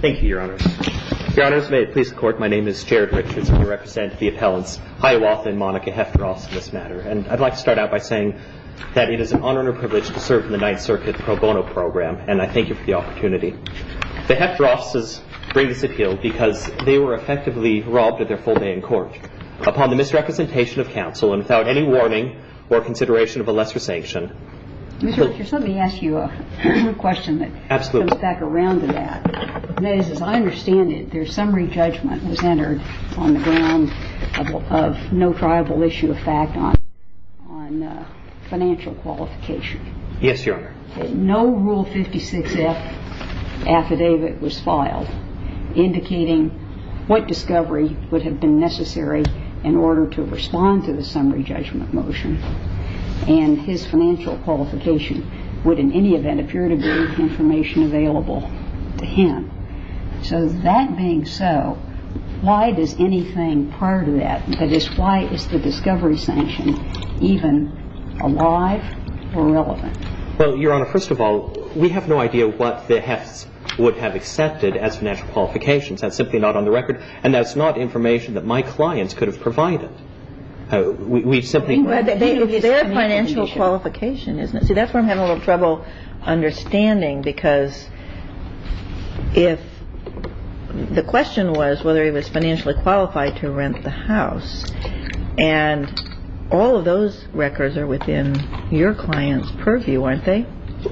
Thank you, Your Honors. Your Honors, may it please the Court, my name is Jared Richards and I represent the appellants Hiawatha and Monica Hoeft-Ross in this matter. And I'd like to start out by saying that it is an honor and a privilege to serve in the Ninth Circuit pro bono program, and I thank you for the opportunity. The Hoeft-Rosses bring this appeal because they were effectively robbed of their full day in court. Upon the misrepresentation of counsel and without any warning or consideration of a lesser sanction Mr. Richards, let me ask you a question that comes back around to that. That is, as I understand it, their summary judgment was entered on the ground of no triable issue of fact on financial qualification. Yes, Your Honor. No Rule 56-F affidavit was filed indicating what discovery would have been necessary in order to respond to the summary judgment motion. And his financial qualification would, in any event, appear to be information available to him. So that being so, why does anything prior to that, that is, why is the discovery sanction even alive or relevant? Well, Your Honor, first of all, we have no idea what the Hoefts would have accepted as financial qualifications. That's simply not on the record. And that's not information that my clients could have provided. We simply don't know. That's their financial qualification, isn't it? See, that's where I'm having a little trouble understanding because if the question was whether he was financially qualified to rent the house. And all of those records are within your client's purview, aren't they?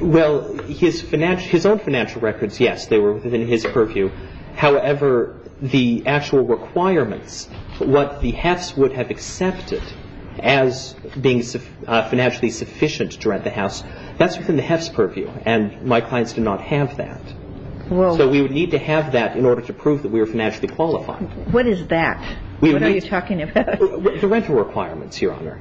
Well, his financial, his own financial records, yes, they were within his purview. However, the actual requirements, what the Hoefts would have accepted as being financially sufficient to rent the house, that's within the Hoefts' purview. And my clients did not have that. So we would need to have that in order to prove that we were financially qualified. What is that? What are you talking about? The rental requirements, Your Honor.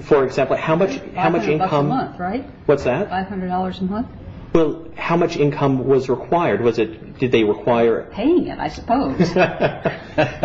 For example, how much income. $500 a month, right? What's that? $500 a month? Well, how much income was required? Was it, did they require? Paying it, I suppose. Well,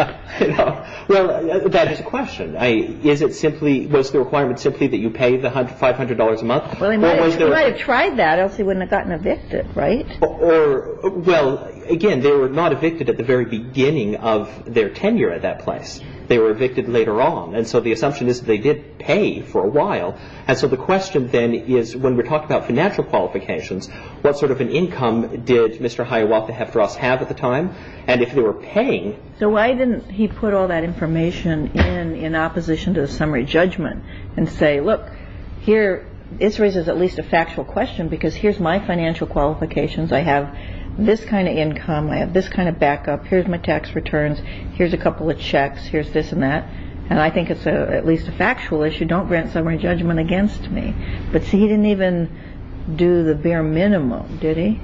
that is the question. Is it simply, was the requirement simply that you pay the $500 a month? Well, he might have tried that, else he wouldn't have gotten evicted, right? Or, well, again, they were not evicted at the very beginning of their tenure at that place. They were evicted later on. And so the assumption is that they did pay for a while. And so the question then is when we're talking about financial qualifications, what sort of an income did Mr. Hiawatha-Hefteros have at the time? And if they were paying? So why didn't he put all that information in in opposition to the summary judgment and say, look, here, this raises at least a factual question because here's my financial qualifications. I have this kind of income. I have this kind of backup. Here's my tax returns. Here's a couple of checks. Here's this and that. And I think it's at least a factual issue. Don't grant summary judgment against me. But see, he didn't even do the bare minimum, did he?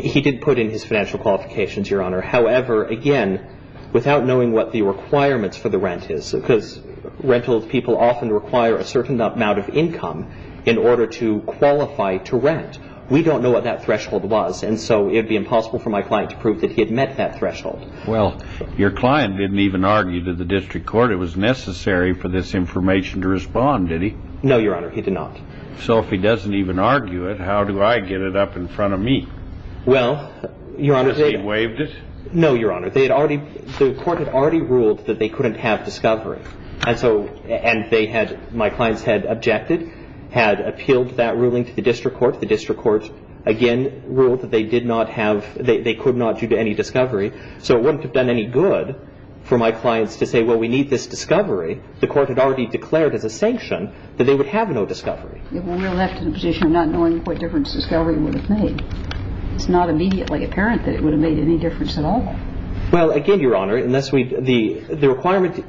He did put in his financial qualifications, Your Honor. However, again, without knowing what the requirements for the rent is, because rental people often require a certain amount of income in order to qualify to rent. We don't know what that threshold was. And so it would be impossible for my client to prove that he had met that threshold. Well, your client didn't even argue to the district court. It was necessary for this information to respond, did he? No, Your Honor, he did not. So if he doesn't even argue it, how do I get it up in front of me? Well, Your Honor, he waived it. No, Your Honor, they had already the court had already ruled that they couldn't have discovery. And so and they had my clients had objected, had appealed that ruling to the district court. The district court again ruled that they did not have they could not due to any discovery. So it wouldn't have done any good for my clients to say, well, we need this discovery. The court had already declared as a sanction that they would have no discovery. We're left in a position of not knowing what difference discovery would have made. It's not immediately apparent that it would have made any difference at all. Well, again, Your Honor, unless we the the requirement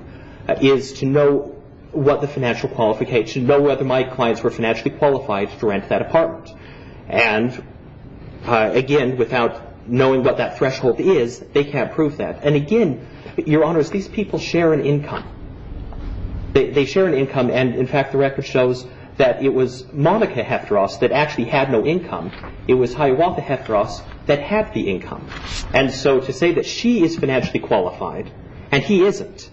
is to know what the financial qualification know whether my clients were financially qualified to rent that apartment. And again, without knowing what that threshold is, they can't prove that. And again, Your Honor, these people share an income. They share an income. And in fact, the record shows that it was Monica Hefteros that actually had no income. It was Hiawatha Hefteros that had the income. And so to say that she is financially qualified and he isn't,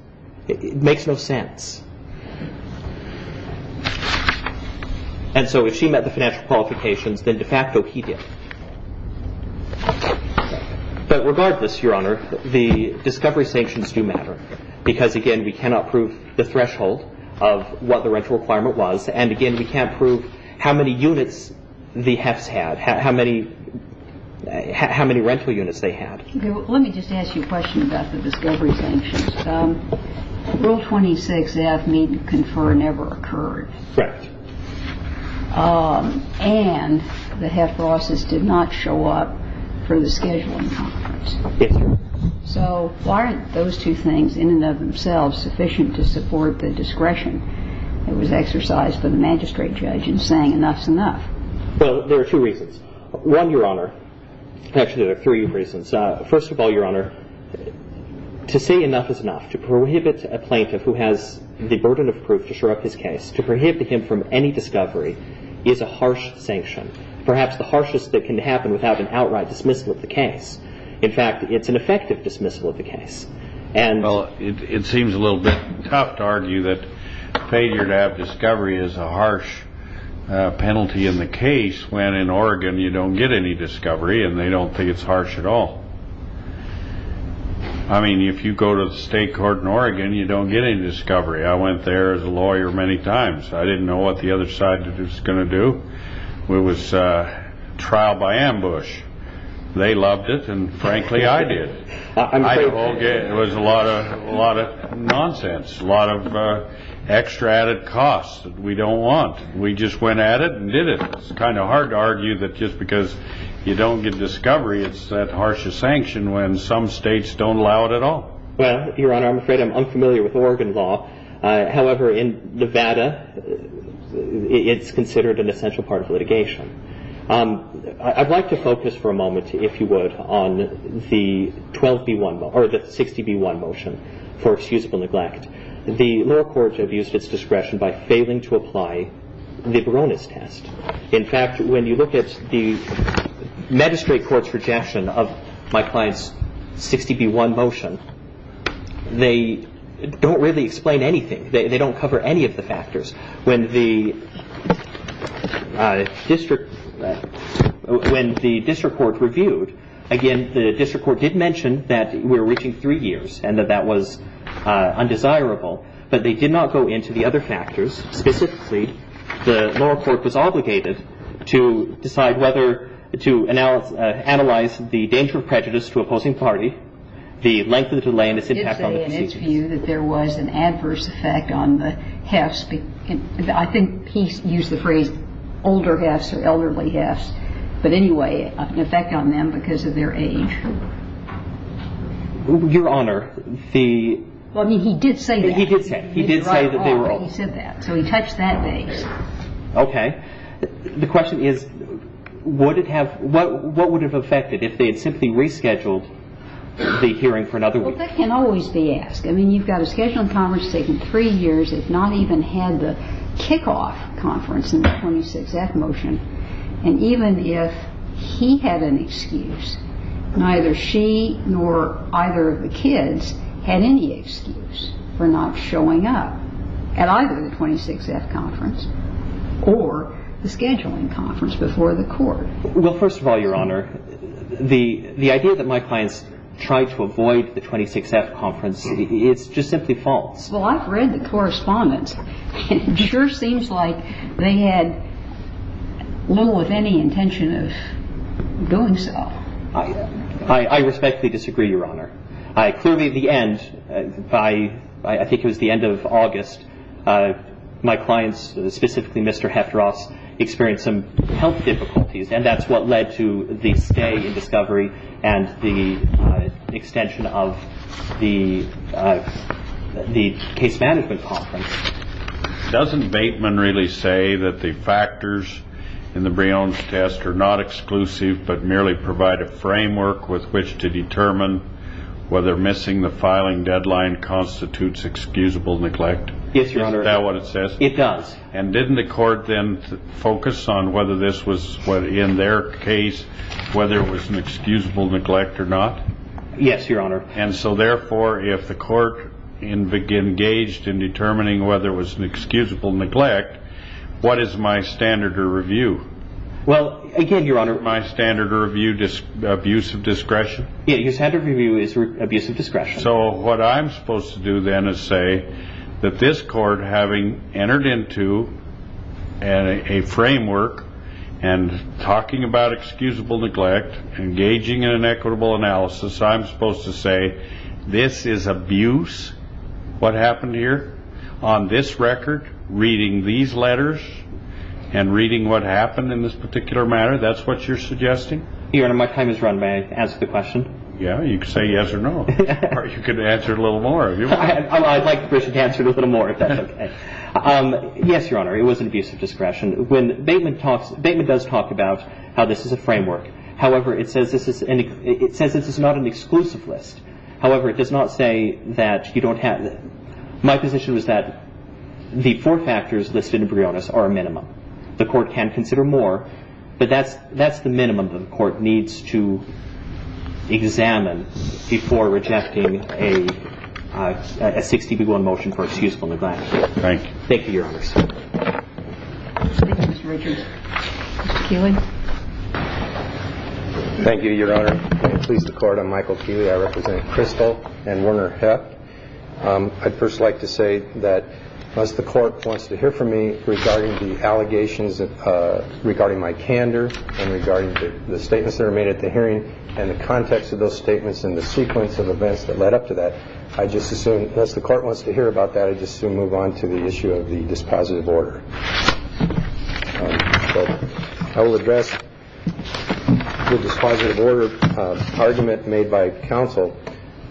it makes no sense. And so if she met the financial qualifications, then de facto, he did. But regardless, Your Honor, the discovery sanctions do matter because, again, we cannot prove the threshold of what the rental requirement was. And again, we can't prove how many units the Hefts had, how many how many rental units they had. Let me just ask you a question about the discovery sanctions. Rule 26F, meet and confer, never occurred. Correct. And the Hefteroses did not show up for the scheduling conference. Yes, Your Honor. So why aren't those two things in and of themselves sufficient to support the discretion that was exercised by the magistrate judge in saying enough is enough? Well, there are two reasons. One, Your Honor, actually there are three reasons. First of all, Your Honor, to say enough is enough, to prohibit a plaintiff who has the burden of proof to show up his case, to prohibit him from any discovery is a harsh sanction, perhaps the harshest that can happen without an outright dismissal of the case. In fact, it's an effective dismissal of the case. Well, it seems a little bit tough to argue that failure to have discovery is a harsh penalty in the case when in Oregon you don't get any discovery and they don't think it's harsh at all. I mean, if you go to the state court in Oregon, you don't get any discovery. I went there as a ambush. They loved it, and frankly, I did. It was a lot of nonsense, a lot of extra added cost that we don't want. We just went at it and did it. It's kind of hard to argue that just because you don't get discovery, it's that harsh a sanction when some states don't allow it at all. Well, Your Honor, I'm afraid I'm unfamiliar with Oregon law. However, in Nevada, it's considered an essential part of litigation. I'd like to focus for a moment, if you would, on the 60B1 motion for excusable neglect. The lower courts have used its discretion by failing to apply the Baroness test. In fact, when you look at the magistrate court's rejection of my client's they don't cover any of the factors. When the district court reviewed, again, the district court did mention that we were reaching three years and that that was undesirable, but they did not go into the other factors. Specifically, the lower court was obligated to decide whether to analyze the danger of prejudice to opposing party, the length of the delay, and its impact on the proceedings. I would say, in its view, that there was an adverse effect on the hefs. I think he used the phrase older hefs or elderly hefs, but anyway, an effect on them because of their age. Your Honor, the... Well, I mean, he did say that. He did say that. He did say that they were old. He said that, so he touched that base. Okay. The question is, what would have if they had simply rescheduled the hearing for another week? Well, that can always be asked. I mean, you've got a scheduled conference taking three years. It's not even had the kickoff conference in the 26th motion, and even if he had an excuse, neither she nor either of the kids had any excuse for not showing up at either the 26th conference or the scheduling conference before the court. Well, first of all, Your Honor, the idea that my clients tried to avoid the 26th conference, it's just simply false. Well, I've read the correspondence. It sure seems like they had little or any intention of doing so. I respectfully disagree, Your Honor. Clearly, at the end, I think it was the end of August, my clients, specifically Mr. Heffross, experienced health difficulties, and that's what led to the stay in discovery and the extension of the case management conference. Doesn't Bateman really say that the factors in the Breon's test are not exclusive but merely provide a framework with which to determine whether missing the filing deadline constitutes excusable neglect? Yes, Your Honor. Is that what it says? It does. And didn't the court then focus on whether this was, in their case, whether it was an excusable neglect or not? Yes, Your Honor. And so therefore, if the court engaged in determining whether it was an excusable neglect, what is my standard of review? Well, again, Your Honor... My standard of review, abuse of discretion? Yeah, your standard of review is abuse of discretion. So what I'm supposed to do then is say that this court, having entered into a framework and talking about excusable neglect, engaging in an equitable analysis, I'm supposed to say this is abuse. What happened here on this record, reading these letters and reading what happened in this particular matter, that's what you're suggesting? Your Honor, my time is run. May I answer a little more? I'd like the person to answer a little more, if that's okay. Yes, Your Honor, it was an abuse of discretion. Bateman does talk about how this is a framework. However, it says this is not an exclusive list. However, it does not say that you don't have... My position was that the four factors listed in Breon's are a minimum. The court can consider more, but that's the minimum that the court needs to examine before rejecting a 60-1 motion for excusable neglect. Thank you, Your Honor. Thank you, Mr. Richards. Mr. Keeley. Thank you, Your Honor. Please, the Court. I'm Michael Keeley. I represent Crystal and Werner Heft. I'd first like to say that as the court wants to hear from me regarding the allegations regarding my candor and regarding the statements that are made at the hearing and the context of those statements and the sequence of events that led up to that, I just assume, unless the court wants to hear about that, I just assume move on to the issue of the dispositive order. So I will address the dispositive order argument made by counsel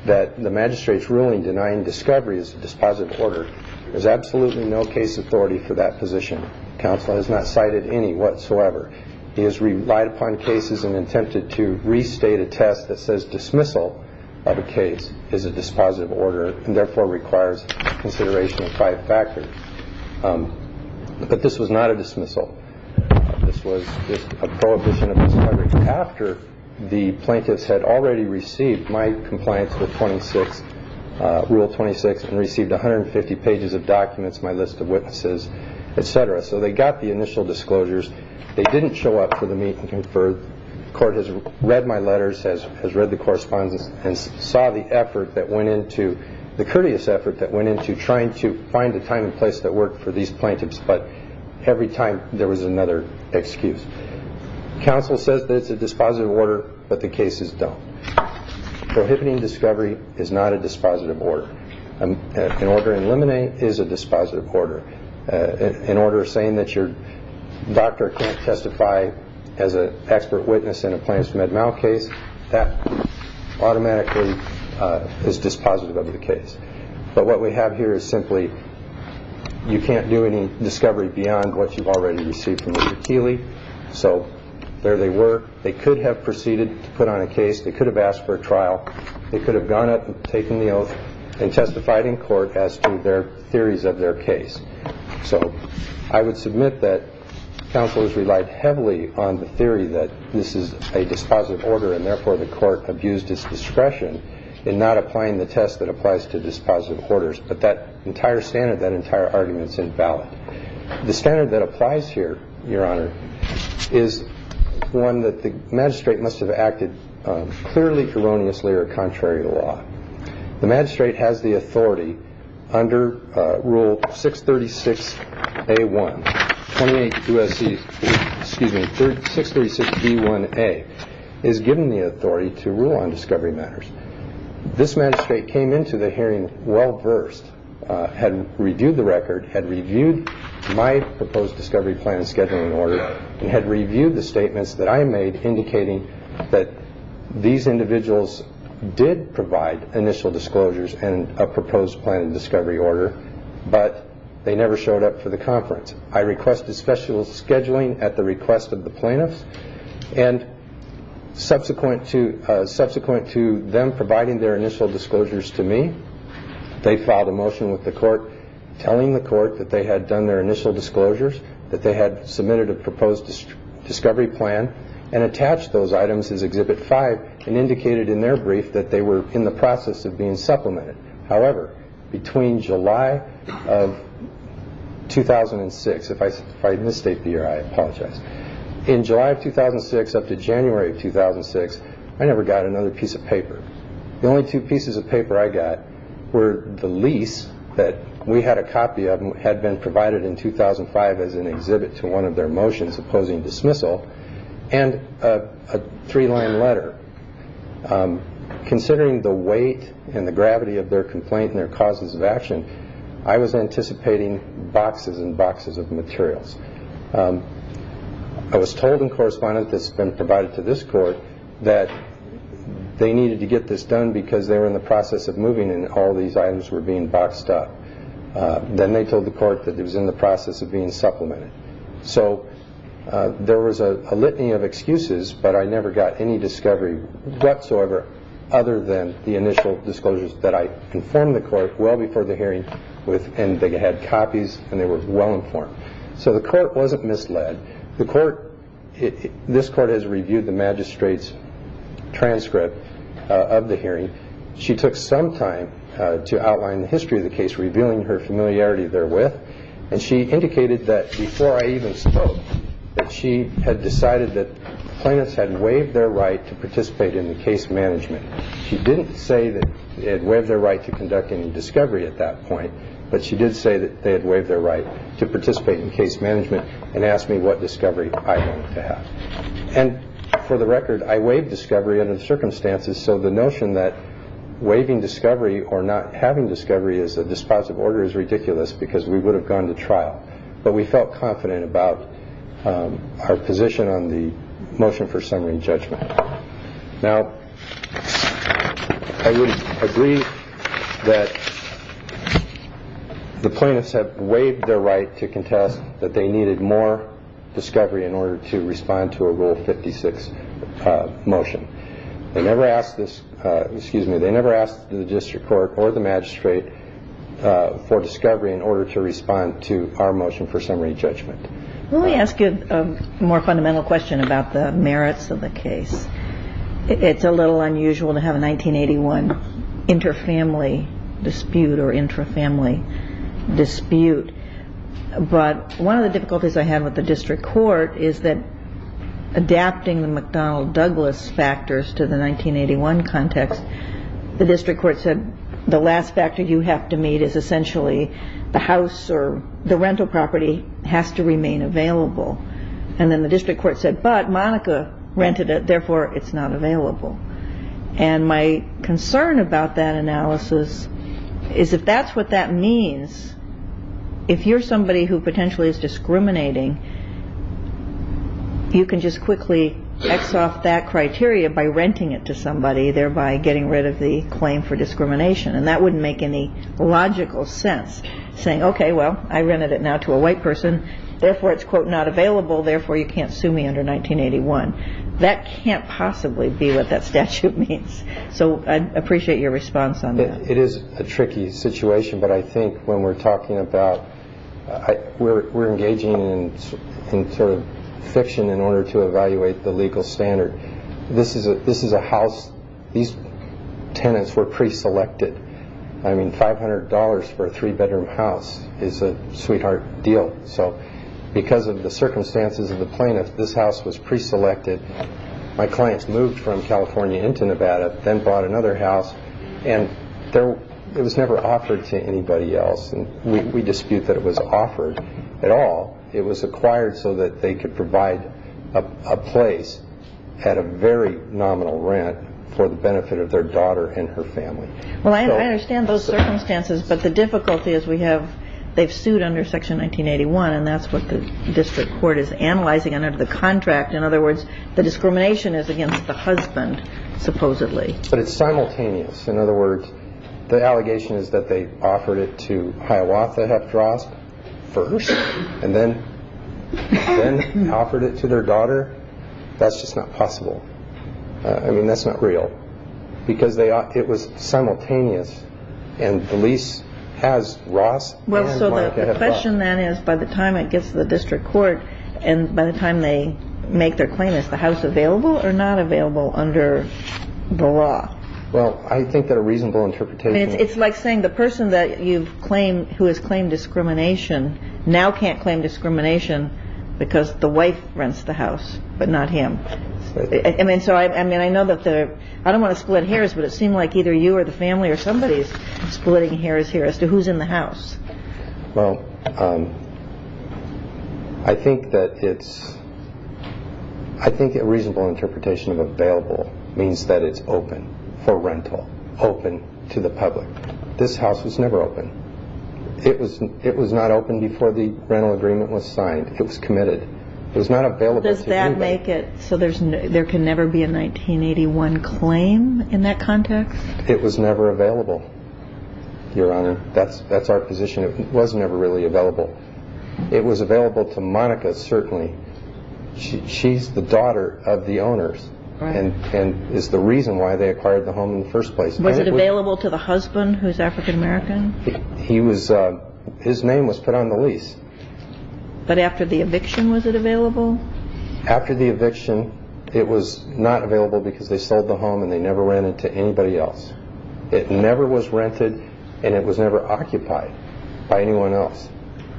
that the magistrate's ruling denying discovery is a dispositive order. There's absolutely no case authority for that position. Counsel has not cited any whatsoever. He has relied upon cases and attempted to restate a test that says dismissal of a case is a dispositive order and therefore requires consideration of five factors. But this was not a dismissal. This was a prohibition of discovery. After the plaintiffs had already received my compliance with Rule 26 and received 150 pages of documents, my list of they got the initial disclosures. They didn't show up for the meet and confer. The court has read my letters, has read the correspondence and saw the effort that went into, the courteous effort that went into trying to find a time and place that worked for these plaintiffs. But every time there was another excuse. Counsel says that it's a dispositive order, but the cases don't. Prohibiting discovery is not a dispositive order. An order in limine is a dispositive order. An order saying that your doctor can't testify as an expert witness in a plaintiff's med mal case, that automatically is dispositive of the case. But what we have here is simply you can't do any discovery beyond what you've already received from Mr. Keeley. So there they were. They could have proceeded to put on a case. They could have asked for a trial. They could have gone up and taken the oath and testified in court as to their theories of their case. So I would submit that counsel has relied heavily on the theory that this is a dispositive order, and therefore the court abused its discretion in not applying the test that applies to dispositive orders. But that entire standard, that entire argument is invalid. The standard that applies here, Your Honor, is one that the magistrate must have acted clearly, erroneously or contrary to law. The magistrate has the authority under Rule 636A1, 28 U.S.C., excuse me, 636B1A, is given the authority to rule on discovery matters. This magistrate came into the hearing well-versed, had reviewed the record, had reviewed my proposed discovery plan and scheduling order, and had reviewed the statements that I made indicating that these individuals did provide initial disclosures and a proposed plan and discovery order, but they never showed up for the conference. I requested special scheduling at the request of the plaintiffs, and subsequent to them providing their initial disclosures to me, they filed a motion with the court telling the court that they had done their initial disclosures, that they had submitted a proposed discovery plan and attached those items as Exhibit 5, and indicated in their brief that they were in the process of being supplemented. However, between July of 2006, if I misstate the year, I apologize, in July of 2006 up to January of 2006, I never got another piece of paper. The only two pieces of paper I got were the lease that we had a copy of and had been provided in 2005 as an exhibit to one of their motions opposing dismissal, and a three-line letter. Considering the weight and the gravity of their complaint and their causes of action, I was anticipating boxes and boxes of materials. I was told in correspondence that's been provided to this court that they needed to get this done because they were in the process of moving and all these items were being boxed up. Then they told the court that it was in the process of being supplemented. So there was a litany of excuses, but I never got any discovery whatsoever other than the initial disclosures that I informed the court well before the hearing, and they had copies and they were well informed. So the court wasn't misled. This court has reviewed the magistrate's transcript of the hearing. She took some time to outline the history of the case, revealing her familiarity therewith, and she indicated that before I even spoke that she had decided that the plaintiffs had waived their right to participate in the case management. She didn't say that they had waived their right to conduct any discovery at that point, but she did say that they had waived their right to participate in case management and asked me what discovery I wanted to have. And for the record, I waived discovery under the circumstances, so the notion that waiving discovery or not having discovery as a dispositive order is ridiculous because we would have gone to trial, but we felt confident about our position on the motion for summary and judgment. Now, I would agree that the plaintiffs have waived their right to contest that they needed more discovery in order to respond to a Rule 56 motion. They never asked this, excuse me, they never asked the district court or the magistrate for discovery in order to respond to our motion for summary judgment. Let me ask you a more fundamental question about the merits of the case. It's a little unusual to inter-family dispute or intra-family dispute, but one of the difficulties I had with the district court is that adapting the McDonnell Douglas factors to the 1981 context, the district court said the last factor you have to meet is essentially the house or the rental property has to remain available. And then the district court said, but Monica rented it, therefore it's not available. And my concern about that analysis is if that's what that means, if you're somebody who potentially is discriminating, you can just quickly X off that criteria by renting it to somebody, thereby getting rid of the claim for discrimination. And that wouldn't make any logical sense, saying, okay, well, I rented it now to a white person, therefore it's, quote, not available, therefore you can't sue me under 1981. That can't possibly be what that statute means. So I appreciate your response on that. It is a tricky situation, but I think when we're talking about, we're engaging in sort of fiction in order to evaluate the legal standard. This is a house, these tenants were pre-selected. I mean, $500 for a three-bedroom house is a sweetheart deal. So because of the plaintiff, this house was pre-selected. My clients moved from California into Nevada, then bought another house, and it was never offered to anybody else. And we dispute that it was offered at all. It was acquired so that they could provide a place at a very nominal rent for the benefit of their daughter and her family. Well, I understand those circumstances, but the contract, in other words, the discrimination is against the husband, supposedly. But it's simultaneous. In other words, the allegation is that they offered it to Hiawatha Heft Ross first, and then offered it to their daughter. That's just not possible. I mean, that's not real. Because it was simultaneous, and the lease has Ross and Hiawatha Heft Ross. Well, so the question then is, by the time it gets to the district court, and by the time they make their claim, is the house available or not available under the law? Well, I think that a reasonable interpretation... It's like saying the person that you've claimed, who has claimed discrimination, now can't claim discrimination because the wife rents the house, but not him. I mean, so I know that they're... I don't want to split hairs, but it seemed like either you or the family or Well, I think that it's... I think a reasonable interpretation of available means that it's open for rental, open to the public. This house was never open. It was not open before the rental agreement was signed. It was committed. It was not available to do that. Does that make it... So there can never be a 1981 claim in that context? It was never available, Your Honor. That's our position. It was never really available. It was available to Monica, certainly. She's the daughter of the owners, and is the reason why they acquired the home in the first place. Was it available to the husband, who's African American? He was... His name was put on the lease. But after the eviction, was it available? After the eviction, it was not rented, and it was never occupied by anyone else.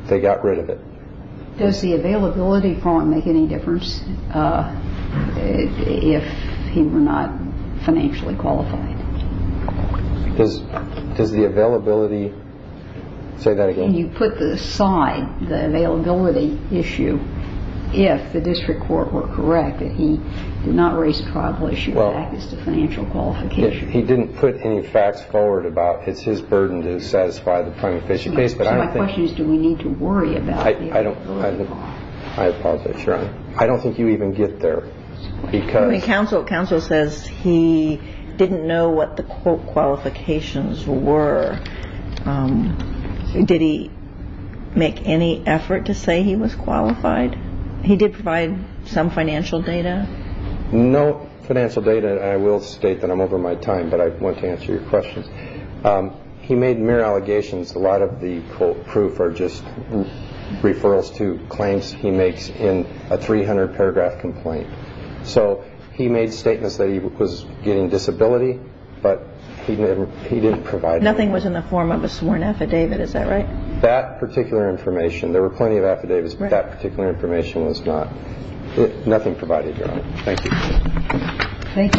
They got rid of it. Does the availability form make any difference if he were not financially qualified? Does the availability... Say that again? You put aside the availability issue, if the district court were correct that he did not raise a tribal issue with access to financial qualification. He didn't put any facts forward about it's his burden to satisfy the primary fishing base, but I don't think... So my question is, do we need to worry about it? I don't... I apologize, Your Honor. I don't think you even get there, because... I mean, counsel says he didn't know what the quote qualifications were. Did he make any effort to say he was qualified? He did provide some financial data? No financial data. I will state that I'm over my time, but I want to answer your questions. He made mere allegations. A lot of the proof are just referrals to claims he makes in a 300 paragraph complaint. So he made statements that he was getting disability, but he didn't provide... Nothing was in the form of a sworn affidavit, is that right? That particular information. There were plenty of affidavits, but that particular information was not... Nothing provided, Your Honor. Thank you.